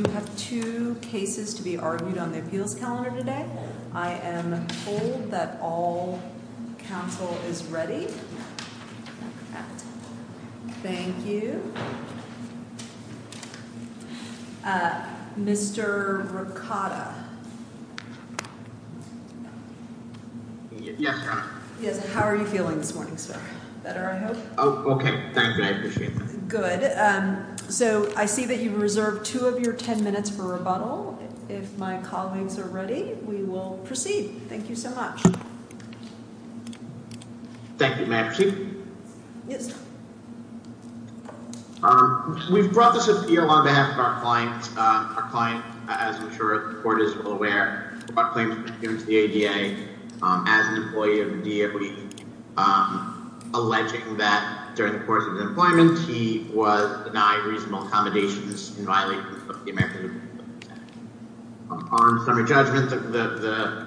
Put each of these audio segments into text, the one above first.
I do have two cases to be argued on the appeals calendar today. I am told that all counsel is ready. Thank you. Mr. Ricotta. Yes. Yes. How are you feeling this morning, sir? Better, I hope. Oh, okay. Thank you. I appreciate that. So I see that you've reserved two of your ten minutes for rebuttal. If my colleagues are ready, we will proceed. Thank you so much. Thank you. May I proceed? Yes, sir. We've brought this appeal on behalf of our client. Our client, as I'm sure the court is well aware, brought a claim to the ADA as an employee of the DOE, alleging that during the course of his employment, he was denied reasonable accommodations in violation of the American Civil Rights Act. Summary judgments of the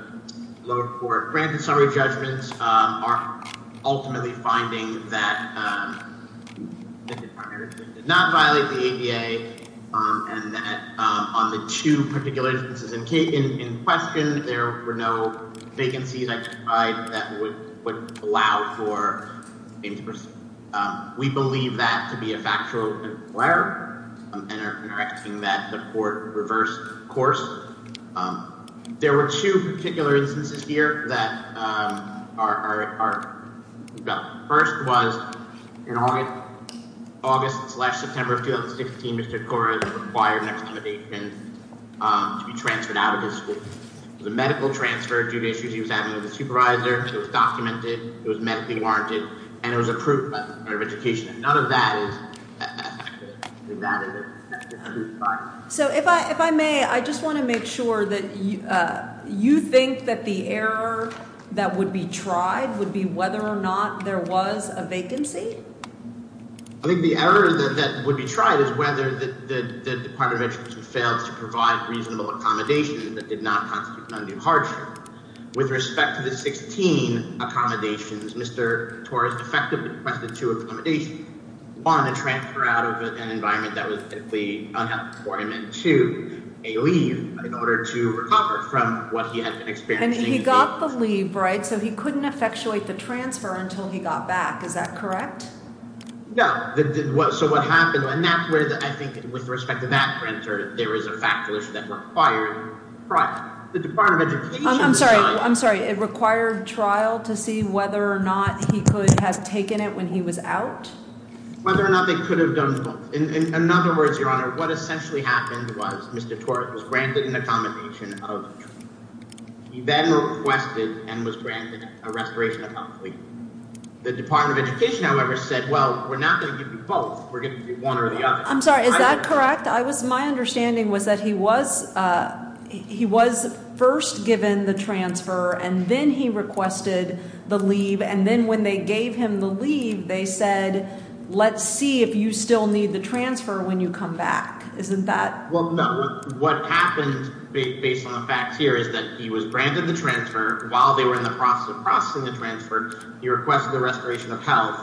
lower court granted summary judgments are ultimately finding that he did not violate the ADA and that on the two particular instances in question, there were no vacancies that would allow for him to proceed. We believe that to be a factual error and are asking that the court reverse course. There were two particular instances here that are first was in August, August, September of 2016, Mr. Cora required an accommodation to be transferred out of his school. The medical transfer due to issues he was having with his supervisor, it was documented, it was medically warranted, and it was approved by the Department of Education. None of that is. So if I if I may, I just want to make sure that you think that the error that would be tried would be whether or not there was a vacancy. I think the error that would be tried is whether the Department of Education failed to provide reasonable accommodation that did not constitute an undue hardship. With respect to the 16 accommodations, Mr. Torres effectively requested two accommodations, one a transfer out of an environment that was medically unhelpful for him and two, a leave in order to recover from what he had been experiencing. And he got the leave, right? So he couldn't effectuate the transfer until he got back. Is that correct? No. So what happened? And that's where I think with respect to that printer, there is a fact that required the Department of Education. I'm sorry. I'm sorry. It required trial to see whether or not he could have taken it when he was out, whether or not they could have done. In other words, your honor, what essentially happened was Mr. Torres was granted an accommodation of. He then requested and was granted a restoration of the Department of Education, however, said, well, we're not going to do both. We're going to do one or the other. I'm sorry. Is that correct? I was my understanding was that he was he was first given the transfer and then he requested the leave. And then when they gave him the leave, they said, let's see if you still need the transfer when you come back. Isn't that what happened based on the fact here is that he was granted the transfer while they were in the process of processing the transfer. He requested the restoration of health.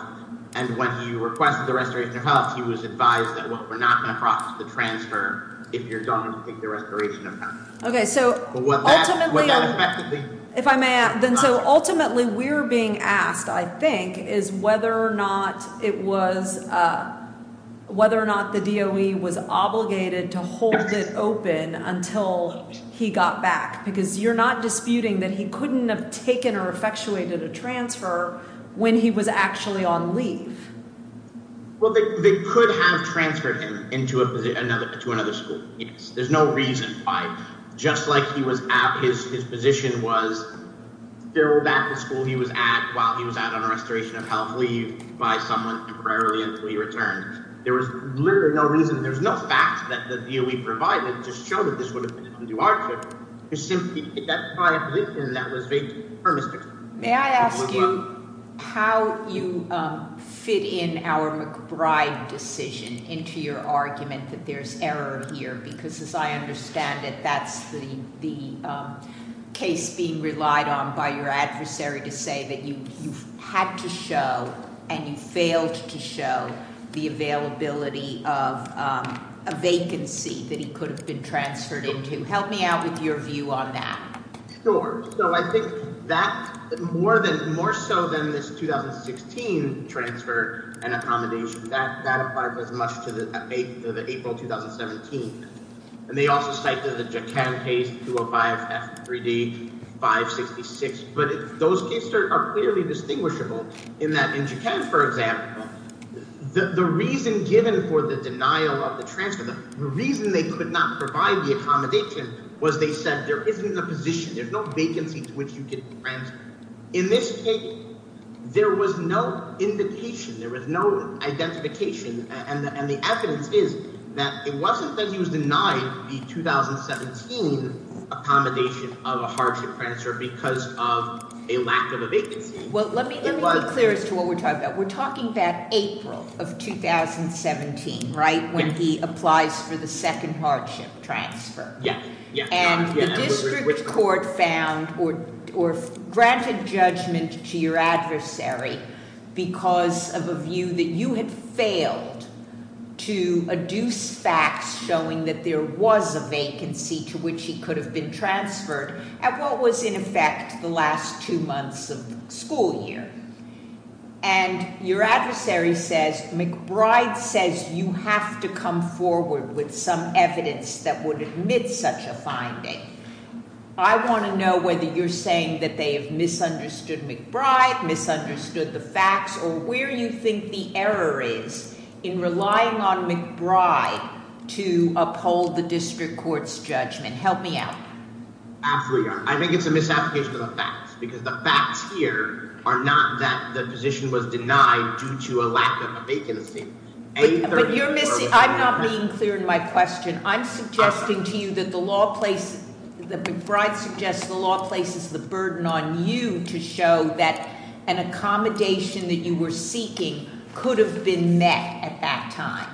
And when he requested the restoration of health, he was advised that we're not going to process the transfer. If you're going to take the restoration. OK, so what? If I may, then so ultimately we're being asked, I think, is whether or not it was whether or not the DOE was obligated to hold it open until he got back. Because you're not disputing that he couldn't have taken or effectuated a transfer when he was actually on leave. Well, they could have transferred him into another to another school. There's no reason by just like he was at his position was there that the school he was at while he was out on a restoration of health leave by someone temporarily until he returned. There was literally no reason. There's no fact that the DOE provided to show that this would have been an undue hardship. It's simply that I believe in that was vague. May I ask you how you fit in our McBride decision into your argument that there's error here? Because as I understand it, that's the case being relied on by your adversary to say that you had to show and you failed to show the availability of a vacancy that he could have been transferred into. Help me out with your view on that. Sure. So I think that more than more so than this 2016 transfer and accommodation that that applies as much to the April 2017. And they also cited the Jaquan case 205-F3D-566. But those cases are clearly distinguishable in that in Jaquan, for example, the reason given for the denial of the transfer, the reason they could not provide the accommodation, was they said there isn't a position, there's no vacancy to which you could transfer. In this case, there was no indication, there was no identification. And the evidence is that it wasn't that he was denied the 2017 accommodation of a hardship transfer because of a lack of a vacancy. Well, let me be clear as to what we're talking about. We're talking about April of 2017, right? When he applies for the second hardship transfer. Yeah. And the district court found or granted judgment to your adversary because of a view that you had failed to adduce facts showing that there was a vacancy to which he could have been transferred at what was in effect the last two months of school year. And your adversary says McBride says you have to come forward with some evidence that would admit such a finding. I want to know whether you're saying that they have misunderstood McBride, misunderstood the facts, or where you think the error is in relying on McBride to uphold the district court's judgment. Help me out. I think it's a misapplication of the facts, because the facts here are not that the position was denied due to a lack of a vacancy. But you're missing, I'm not being clear in my question. I'm suggesting to you that McBride suggests the law places the burden on you to show that an accommodation that you were seeking could have been met at that time.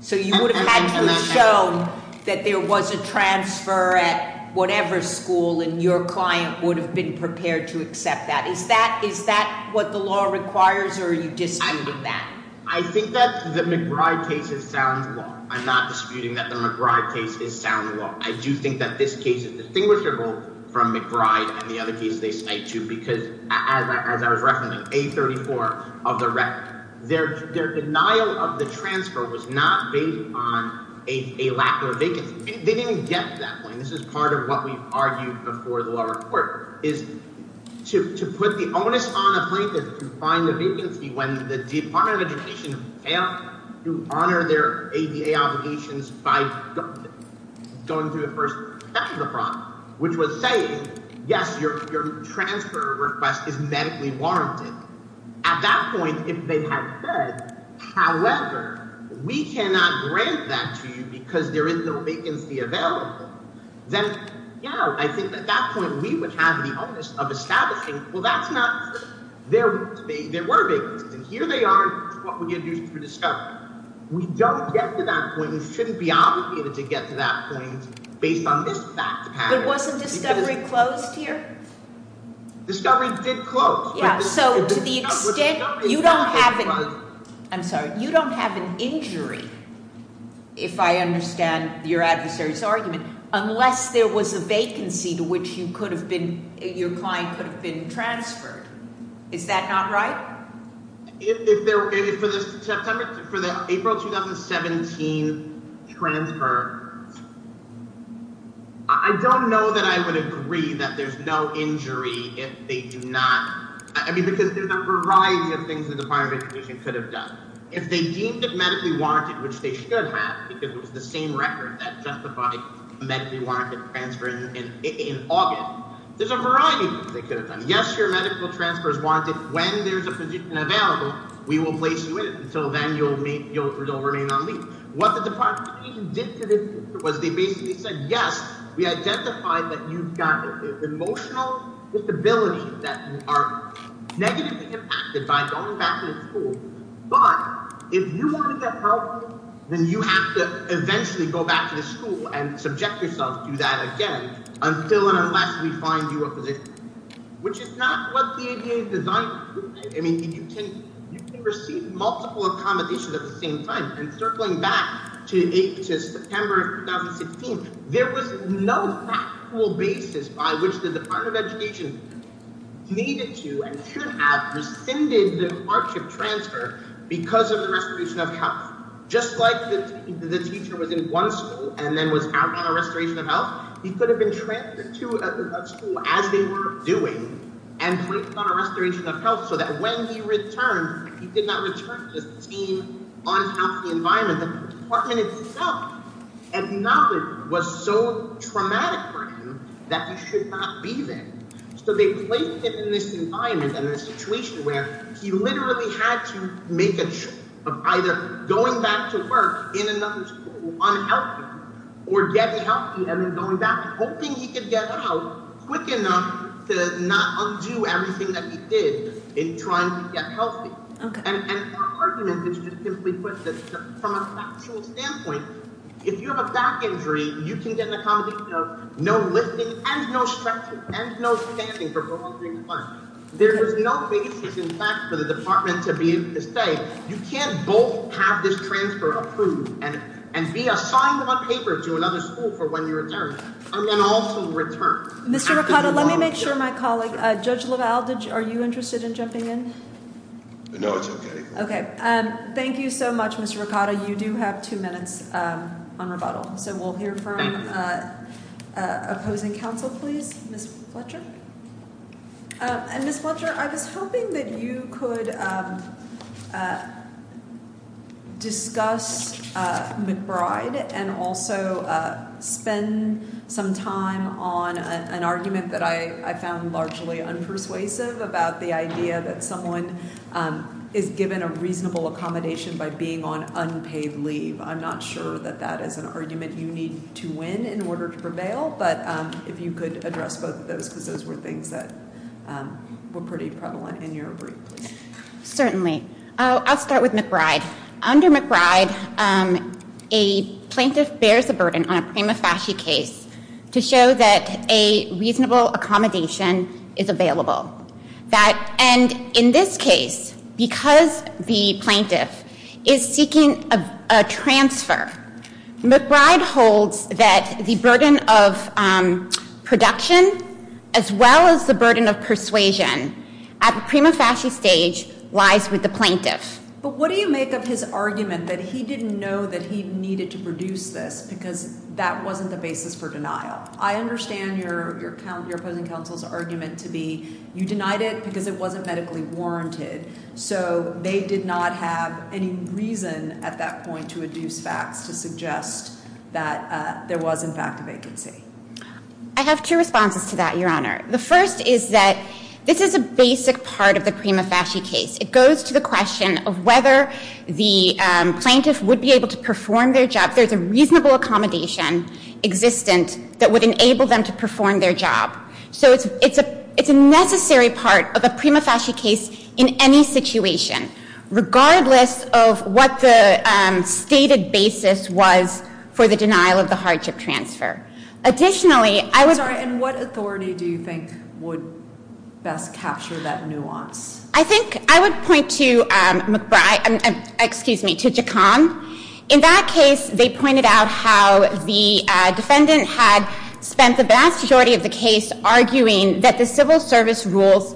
So you would have had to have shown that there was a transfer at whatever school and your client would have been prepared to accept that. Is that what the law requires or are you disputing that? I think that the McBride case is sound law. I'm not disputing that the McBride case is sound law. I do think that this case is distinguishable from McBride and the other cases they cite too. Because as I was referencing, A34 of the record, their denial of the transfer was not based on a lack of a vacancy. They didn't get to that point. This is part of what we've argued before the lower court. To put the onus on a plaintiff to find a vacancy when the Department of Education failed to honor their ADA obligations by going through the first step of the process, which was saying, yes, your transfer request is medically warranted. At that point, if they had said, however, we cannot grant that to you because there is no vacancy available, then I think at that point we would have the onus of establishing, well, that's not true. There were vacancies and here they are and this is what we're going to do through discovery. We don't get to that point and shouldn't be obligated to get to that point based on this fact pattern. But wasn't discovery closed here? Discovery did close. So to the extent, you don't have an injury, if I understand your adversary's argument, unless there was a vacancy to which your client could have been transferred. Is that not right? For the April 2017 transfer, I don't know that I would agree that there's no injury if they do not – because there's a variety of things the Department of Education could have done. If they deemed it medically warranted, which they should have because it was the same record that justified medically warranted transfer in August, there's a variety of things they could have done. Yes, your medical transfer is warranted. When there's a position available, we will place you in it. Until then, you'll remain on leave. What the Department of Education did to this was they basically said, yes, we identified that you've got emotional disabilities that are negatively impacted by going back to the school. But if you want to get help, then you have to eventually go back to the school and subject yourself to that again until and unless we find you a position. Which is not what the ADA designed. I mean, you can receive multiple accommodations at the same time. And circling back to September 2016, there was no factual basis by which the Department of Education needed to and should have rescinded the hardship transfer because of the restoration of health. The Department itself acknowledged it was so traumatic for him that he should not be there. So they placed him in this environment and this situation where he literally had to make a choice of either going back to work in another school, unhealthy, or getting healthy and then going back, hoping he could get out quick enough to not undo everything that he did in trying to get healthy. And their argument is just simply put that from a factual standpoint, if you have a back injury, you can get an accommodation of no lifting and no stretching and no standing for prolonged periods of time. There is no basis, in fact, for the department to be able to say, you can't both have this transfer approved and be assigned on paper to another school for when you return and then also return. Let me make sure my colleague, Judge LaValle, are you interested in jumping in? No, it's okay. Okay. Thank you so much, Mr. Ricotta. You do have two minutes on rebuttal. So we'll hear from opposing counsel, please. Ms. Fletcher? Ms. Fletcher, I was hoping that you could discuss McBride and also spend some time on an argument that I found largely unpersuasive about the idea that someone is given a reasonable accommodation by being on unpaid leave. I'm not sure that that is an argument you need to win in order to prevail, but if you could address both of those, because those were things that were pretty prevalent in your brief. Certainly. I'll start with McBride. Under McBride, a plaintiff bears a burden on a prima facie case to show that a reasonable accommodation is available. And in this case, because the plaintiff is seeking a transfer, McBride holds that the burden of production as well as the burden of persuasion at the prima facie stage lies with the plaintiff. But what do you make of his argument that he didn't know that he needed to produce this because that wasn't the basis for denial? I understand your opposing counsel's argument to be you denied it because it wasn't medically warranted, so they did not have any reason at that point to adduce facts to suggest that there was, in fact, a vacancy. I have two responses to that, Your Honor. The first is that this is a basic part of the prima facie case. It goes to the question of whether the plaintiff would be able to perform their job. There's a reasonable accommodation existent that would enable them to perform their job. So it's a necessary part of a prima facie case in any situation, regardless of what the stated basis was for the denial of the hardship transfer. I'm sorry, and what authority do you think would best capture that nuance? I think I would point to McBride, excuse me, to Gacon. In that case, they pointed out how the defendant had spent the vast majority of the case arguing that the civil service rules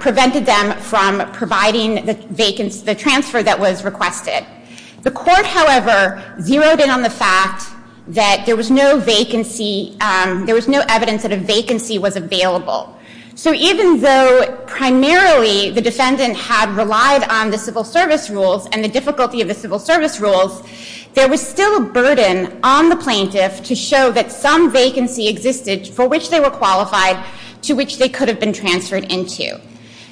prevented them from providing the transfer that was requested. The court, however, zeroed in on the fact that there was no vacancy, there was no evidence that a vacancy was available. So even though primarily the defendant had relied on the civil service rules and the difficulty of the civil service rules, there was still a burden on the plaintiff to show that some vacancy existed for which they were qualified to which they could have been transferred into.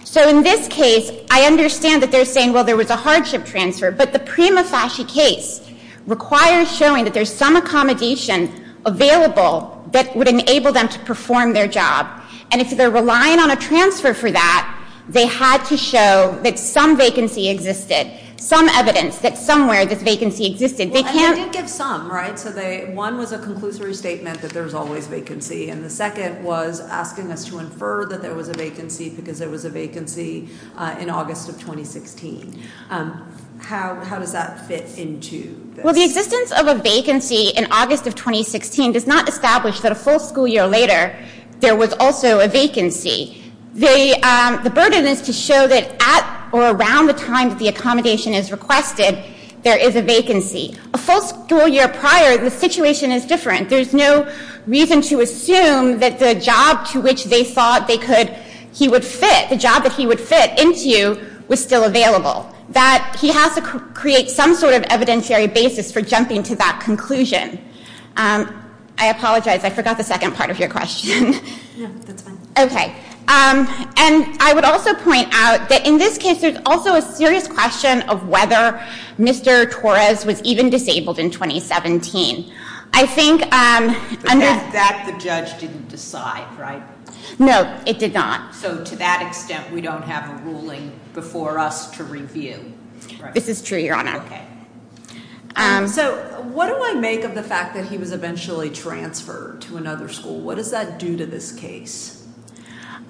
So in this case, I understand that they're saying, well, there was a hardship transfer, but the prima facie case requires showing that there's some accommodation available that would enable them to perform their job. And if they're relying on a transfer for that, they had to show that some vacancy existed, some evidence that somewhere this vacancy existed. Well, and they did give some, right? So one was a conclusory statement that there's always vacancy, and the second was asking us to infer that there was a vacancy because there was a vacancy in August of 2016. How does that fit into this? Well, the existence of a vacancy in August of 2016 does not establish that a full school year later, there was also a vacancy. The burden is to show that at or around the time that the accommodation is requested, there is a vacancy. A full school year prior, the situation is different. There's no reason to assume that the job to which they thought he would fit, the job that he would fit into, was still available. That he has to create some sort of evidentiary basis for jumping to that conclusion. I apologize, I forgot the second part of your question. Yeah, that's fine. Okay. And I would also point out that in this case, there's also a serious question of whether Mr. Torres was even disabled in 2017. I think- But that the judge didn't decide, right? No, it did not. So to that extent, we don't have a ruling before us to review, right? This is true, Your Honor. Okay. So what do I make of the fact that he was eventually transferred to another school? What does that do to this case?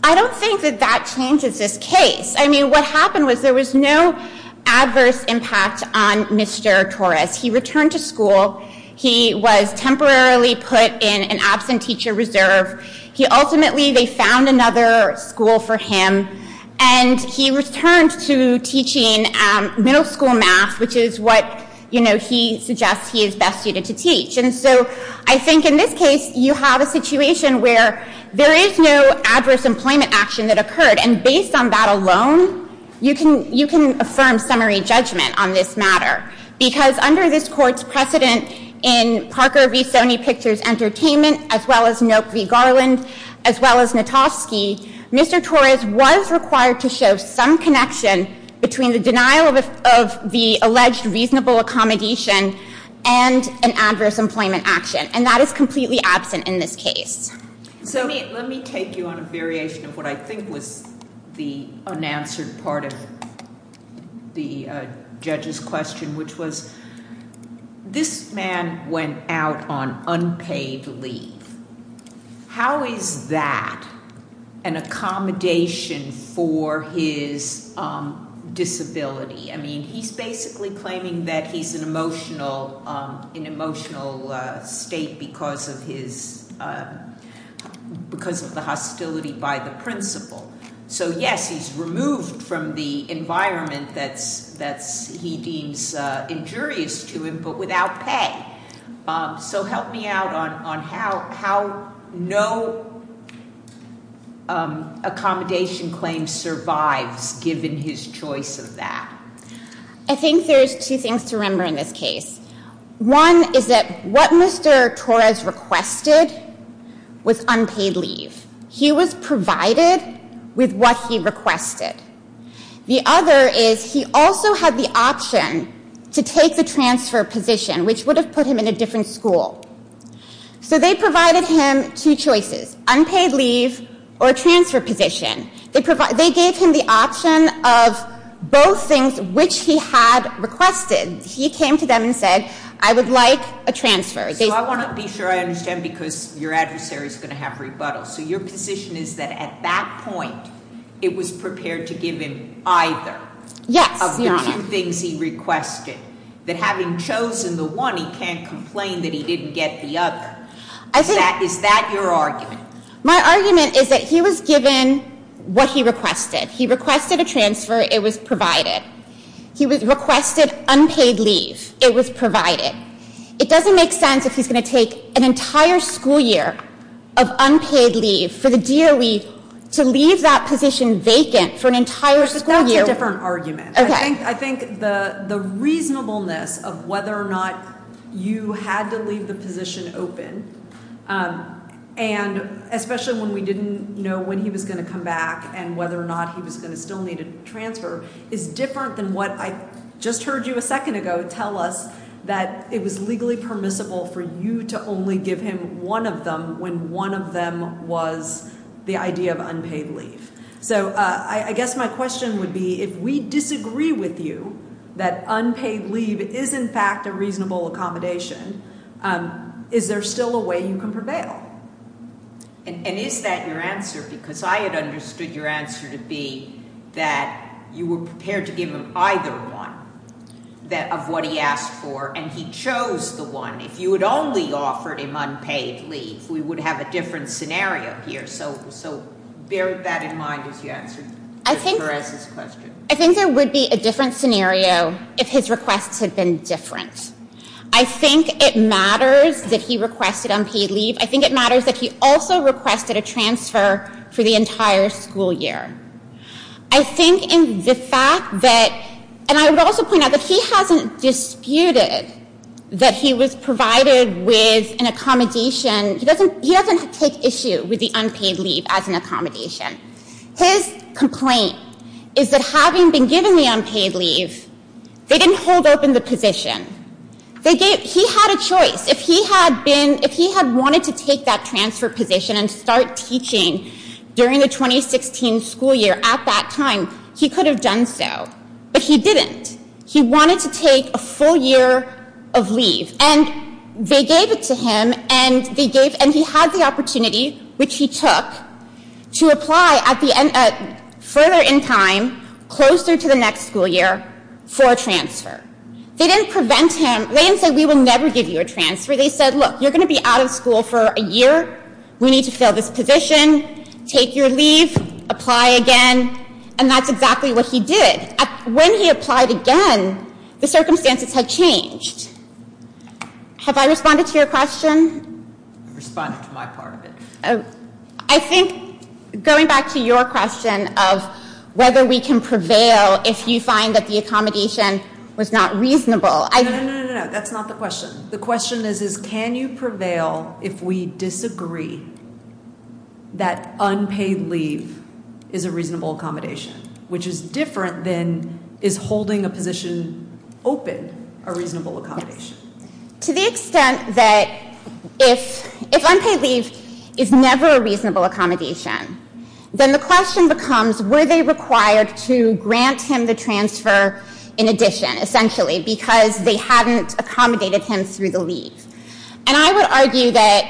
I don't think that that changes this case. I mean, what happened was there was no adverse impact on Mr. Torres. He returned to school. He was temporarily put in an absent teacher reserve. Ultimately, they found another school for him. And he returned to teaching middle school math, which is what he suggests he is best suited to teach. And so I think in this case, you have a situation where there is no adverse employment action that occurred. And based on that alone, you can affirm summary judgment on this matter. Because under this court's precedent in Parker v. Sony Pictures Entertainment, as well as Knope v. Garland, as well as Notovsky, Mr. Torres was required to show some connection between the denial of the alleged reasonable accommodation and an adverse employment action. And that is completely absent in this case. So let me take you on a variation of what I think was the unanswered part of the judge's question, which was this man went out on unpaid leave. How is that an accommodation for his disability? I mean, he's basically claiming that he's in an emotional state because of the hostility by the principal. So, yes, he's removed from the environment that he deems injurious to him, but without pay. So help me out on how no accommodation claim survives, given his choice of that. I think there's two things to remember in this case. One is that what Mr. Torres requested was unpaid leave. He was provided with what he requested. The other is he also had the option to take the transfer position, which would have put him in a different school. So they provided him two choices, unpaid leave or transfer position. They gave him the option of both things, which he had requested. He came to them and said, I would like a transfer. So I want to be sure I understand, because your adversary is going to have rebuttal. So your position is that at that point, it was prepared to give him either. Yes, Your Honor. Of the two things he requested. That having chosen the one, he can't complain that he didn't get the other. Is that your argument? My argument is that he was given what he requested. He requested a transfer. It was provided. He requested unpaid leave. It was provided. It doesn't make sense if he's going to take an entire school year of unpaid leave for the DOE to leave that position vacant for an entire school year. That's a different argument. I think the reasonableness of whether or not you had to leave the position open, and especially when we didn't know when he was going to come back and whether or not he was going to still need a transfer, is different than what I just heard you a second ago tell us, that it was legally permissible for you to only give him one of them when one of them was the idea of unpaid leave. So I guess my question would be, if we disagree with you that unpaid leave is, in fact, a reasonable accommodation, is there still a way you can prevail? And is that your answer? Because I had understood your answer to be that you were prepared to give him either one of what he asked for, and he chose the one. If you had only offered him unpaid leave, we would have a different scenario here. So bear that in mind as you answer Ms. Perez's question. I think there would be a different scenario if his requests had been different. I think it matters that he requested unpaid leave. I think it matters that he also requested a transfer for the entire school year. I think in the fact that, and I would also point out that he hasn't disputed that he was provided with an accommodation. He doesn't take issue with the unpaid leave as an accommodation. His complaint is that having been given the unpaid leave, they didn't hold open the position. He had a choice. If he had wanted to take that transfer position and start teaching during the 2016 school year at that time, he could have done so. But he didn't. He wanted to take a full year of leave. And they gave it to him, and he had the opportunity, which he took, to apply further in time, closer to the next school year, for a transfer. They didn't prevent him. They didn't say, we will never give you a transfer. They said, look, you're going to be out of school for a year. We need to fill this position. Take your leave. Apply again. And that's exactly what he did. When he applied again, the circumstances had changed. Have I responded to your question? Responded to my part of it. I think going back to your question of whether we can prevail if you find that the accommodation was not reasonable. No, no, no, no, no. That's not the question. The question is, can you prevail if we disagree that unpaid leave is a reasonable accommodation, which is different than is holding a position open a reasonable accommodation? To the extent that if unpaid leave is never a reasonable accommodation, then the question becomes, were they required to grant him the transfer in addition, essentially, because they hadn't accommodated him through the leave? And I would argue that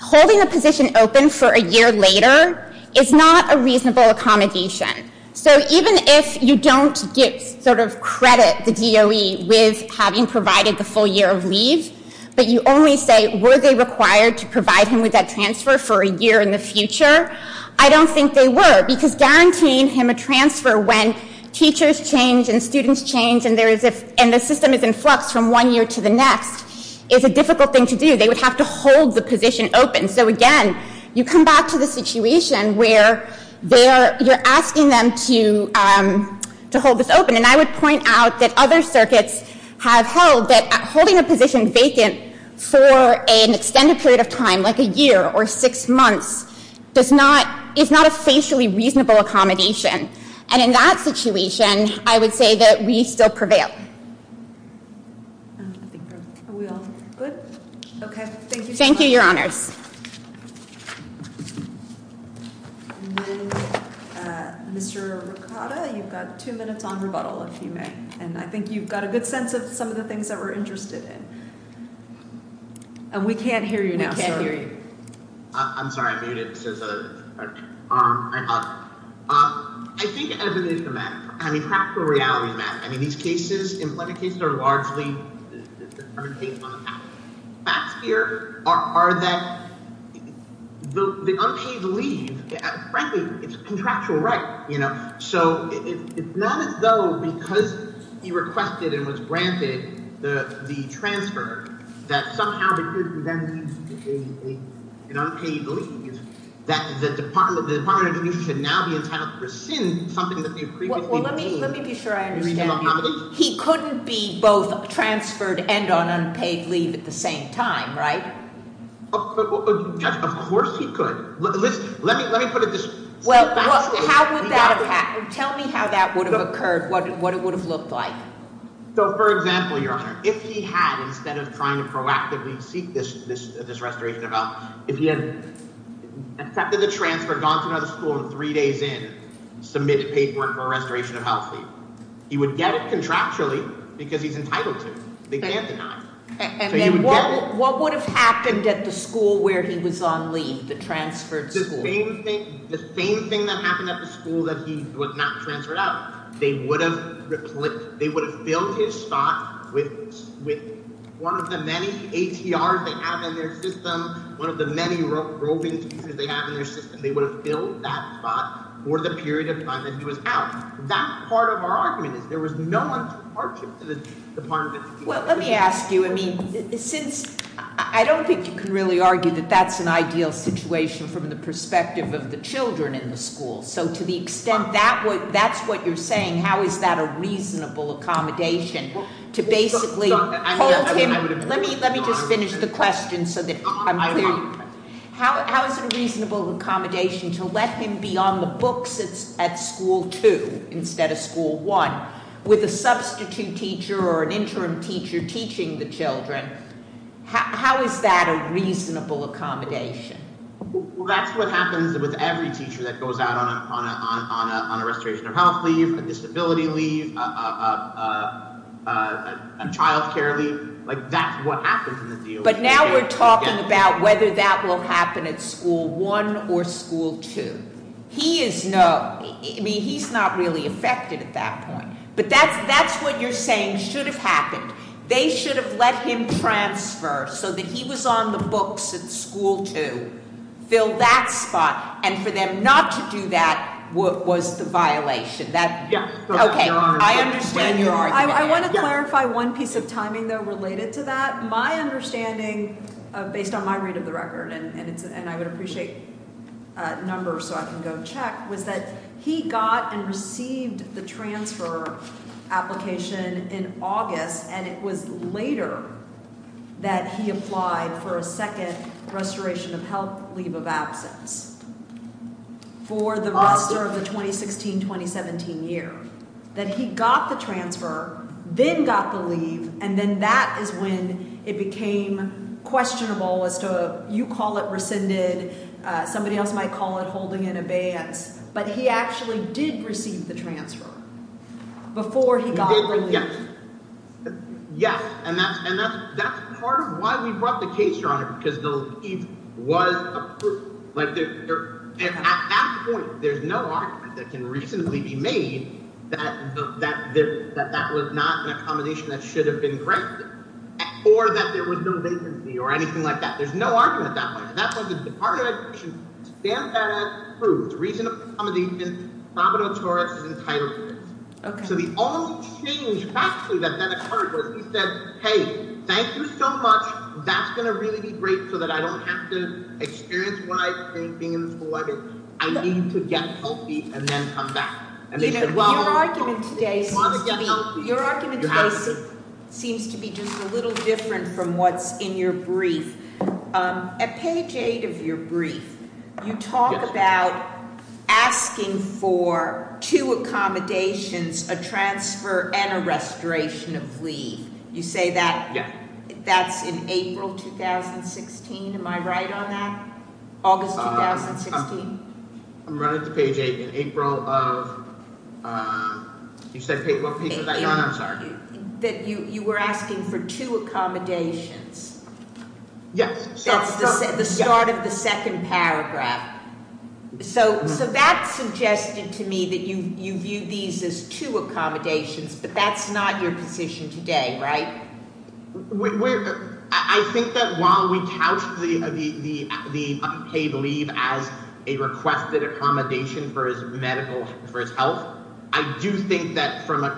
holding a position open for a year later is not a reasonable accommodation. So even if you don't sort of credit the DOE with having provided the full year of leave, but you only say, were they required to provide him with that transfer for a year in the future? I don't think they were, because guaranteeing him a transfer when teachers change and students change and the system is in flux from one year to the next is a difficult thing to do. They would have to hold the position open. So, again, you come back to the situation where you're asking them to hold this open. And I would point out that other circuits have held that holding a position vacant for an extended period of time, like a year or six months, is not a facially reasonable accommodation. And in that situation, I would say that we still prevail. Okay. Thank you, Your Honors. Mr. Ricotta, you've got two minutes on rebuttal, if you may. And I think you've got a good sense of some of the things that we're interested in. We can't hear you now, sir. I'm sorry. I think evidence is a matter. I mean, practical reality is a matter. I mean, these cases, employment cases are largely facts here are that the unpaid leave, frankly, it's a contractual right. So it's not as though because he requested and was granted the transfer, that somehow because he then needs an unpaid leave, that the Department of Communications should now be entitled to rescind something that they previously received. Well, let me be sure I understand you. He couldn't be both transferred and on unpaid leave at the same time, right? Of course he could. Let me put it this way. Tell me how that would have occurred, what it would have looked like. So for example, Your Honor, if he had, instead of trying to proactively seek this restoration of health, if he had accepted the transfer, gone to another school, and three days in submitted paperwork for restoration of health leave, he would get it contractually because he's entitled to. They can't deny it. And then what would have happened at the school where he was on leave, the transferred school? The same thing that happened at the school that he was not transferred out. They would have filled his spot with one of the many ATRs they have in their system, one of the many roving teachers they have in their system. They would have filled that spot for the period of time that he was out. That part of our argument is there was no one to park him to the Department of Communications. Well, let me ask you. I mean, since I don't think you can really argue that that's an ideal situation from the perspective of the children in the school. So to the extent that's what you're saying, how is that a reasonable accommodation to basically hold him? Let me just finish the question so that I'm clear. How is it a reasonable accommodation to let him be on the books at school two instead of school one with a substitute teacher or an interim teacher teaching the children? How is that a reasonable accommodation? Well, that's what happens with every teacher that goes out on a restoration of health leave, a disability leave, a child care leave. That's what happens in the deal. But now we're talking about whether that will happen at school one or school two. I mean, he's not really affected at that point. But that's what you're saying should have happened. They should have let him transfer so that he was on the books at school two, fill that spot. And for them not to do that was the violation. Okay, I understand your argument. I want to clarify one piece of timing, though, related to that. My understanding, based on my read of the record, and I would appreciate numbers so I can go check, was that he got and received the transfer application in August, and it was later that he applied for a second restoration of health leave of absence for the rest of the 2016-2017 year, that he got the transfer, then got the leave, and then that is when it became questionable as to, you call it rescinded, somebody else might call it holding in abeyance, but he actually did receive the transfer before he got the leave. Yes, and that's part of why we brought the case here on it, because the leave was approved. At that point, there's no argument that can reasonably be made that that was not an accommodation that should have been granted, or that there was no vacancy or anything like that. There's no argument at that point. And that's why the Department of Education stamped that as approved. The reason for the accommodation is probably notorious as entitled is. So the only change, actually, that then occurred was he said, hey, thank you so much. That's going to really be great so that I don't have to experience what I experienced being in school. I need to get healthy and then come back. Your argument today seems to be just a little different from what's in your brief. At page eight of your brief, you talk about asking for two accommodations, a transfer and a restoration of leave. You say that- Yeah. That's in April 2016. Am I right on that? August 2016? I'm running to page eight. In April of- You said- April- I'm sorry. That you were asking for two accommodations. Yes. That's the start of the second paragraph. So that suggested to me that you viewed these as two accommodations, but that's not your position today, right? I think that while we couched the paid leave as a requested accommodation for his medical, for his health, I do think that from a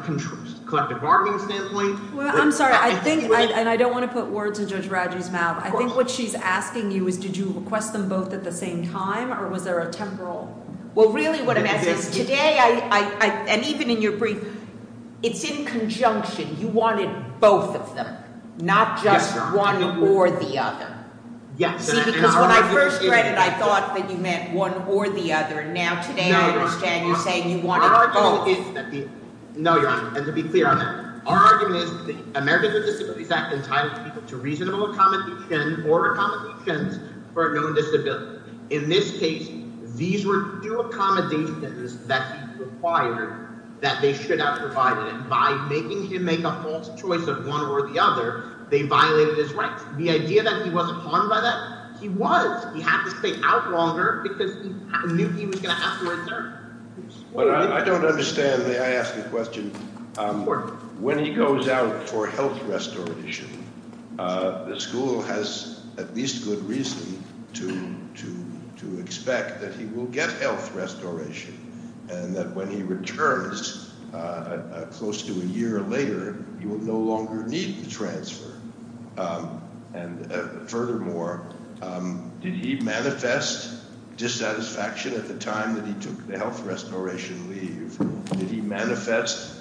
collective bargaining standpoint- Well, I'm sorry. I think, and I don't want to put words in Judge Raju's mouth. Of course. I think what she's asking you is did you request them both at the same time or was there a temporal- Well, really what I'm asking is today, and even in your brief, it's in conjunction. You wanted both of them, not just one or the other. Yes, Your Honor. See, because when I first read it, I thought that you meant one or the other, and now today I understand you're saying you wanted both. No, Your Honor, and to be clear on that. Our argument is the Americans with Disabilities Act entitles people to reasonable accommodation or accommodations for a known disability. In this case, these were two accommodations that he required that they should have provided, and by making him make a false choice of one or the other, they violated his rights. The idea that he wasn't harmed by that, he was. He had to stay out longer because he knew he was going to have to return. I don't understand. May I ask a question? Of course. When he goes out for health restoration, the school has at least good reason to expect that he will get health restoration and that when he returns close to a year later, he will no longer need the transfer. And furthermore, did he manifest dissatisfaction at the time that he took the health restoration leave? Did he manifest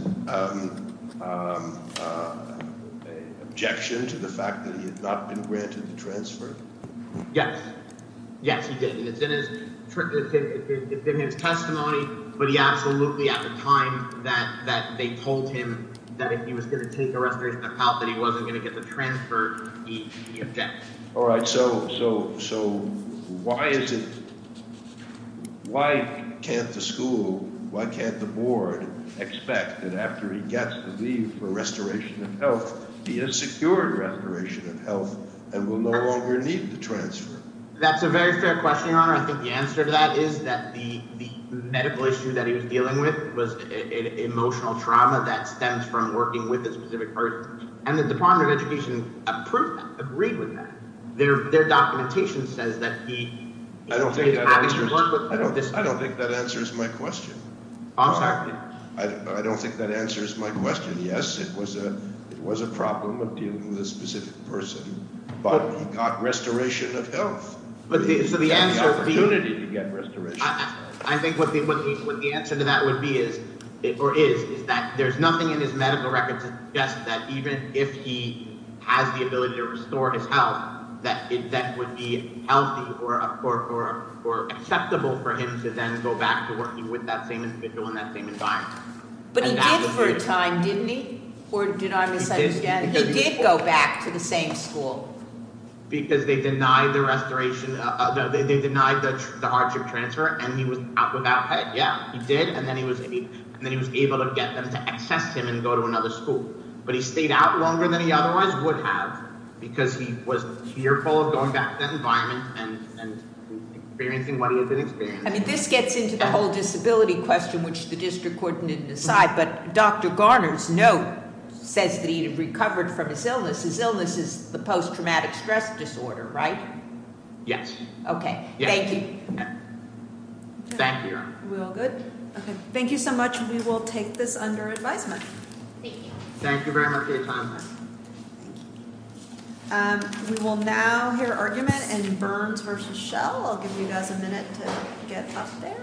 objection to the fact that he had not been granted the transfer? Yes. Yes, he did. It's in his testimony, but he absolutely at the time that they told him that if he was going to take a restoration of health that he wasn't going to get the transfer, he objected. All right, so why is it – why can't the school, why can't the board expect that after he gets the leave for restoration of health, he is secured restoration of health and will no longer need the transfer? That's a very fair question, Your Honor. I think the answer to that is that the medical issue that he was dealing with was an emotional trauma that stems from working with a specific person. And the Department of Education approved that, agreed with that. Their documentation says that he is happy to work with them. I don't think that answers my question. I'm sorry? I don't think that answers my question. Yes, it was a problem of dealing with a specific person, but he got restoration of health. He had the opportunity to get restoration. I think what the answer to that would be is – or is – is that there's nothing in his medical record to suggest that even if he has the ability to restore his health, that that would be healthy or acceptable for him to then go back to working with that same individual in that same environment. But he did for a time, didn't he? Or did I miss that again? He did go back to the same school. Because they denied the restoration – they denied the hardship transfer, and he was out without pay. Yeah, he did, and then he was able to get them to access him and go to another school. But he stayed out longer than he otherwise would have because he was fearful of going back to that environment and experiencing what he had been experiencing. I mean, this gets into the whole disability question, which the district court didn't decide, but Dr. Garner's note says that he recovered from his illness. His illness is the post-traumatic stress disorder, right? Yes. Okay. Thank you. Thank you. Are we all good? Okay. Thank you so much. We will take this under advisement. Thank you. Thank you very much for your time. Thank you. We will now hear argument in Burns v. Schell. I'll give you guys a minute to get up there.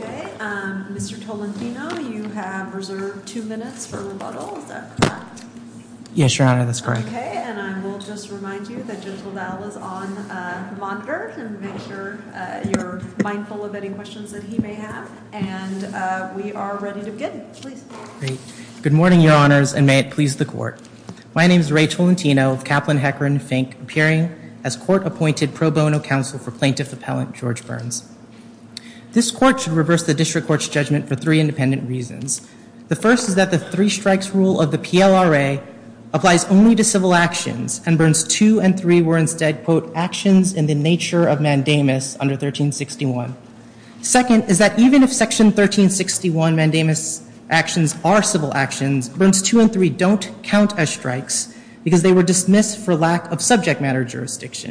Okay. Mr. Tolentino, you have reserved two minutes for rebuttal. Is that correct? Yes, Your Honor, that's correct. Okay. And I will just remind you that Gentle Dowell is on monitor to make sure you're mindful of any questions that he may have. And we are ready to begin. Please. Great. Good morning, Your Honors, and may it please the court. My name is Rachel Tolentino of Kaplan, Hecker, and Fink, appearing as court-appointed pro bono counsel for plaintiff appellant George Burns. This court should reverse the district court's judgment for three independent reasons. The first is that the three-strikes rule of the PLRA applies only to civil actions, and Burns 2 and 3 were instead, quote, actions in the nature of mandamus under 1361. Second is that even if Section 1361 mandamus actions are civil actions, Burns 2 and 3 don't count as strikes because they were dismissed for lack of subject matter jurisdiction.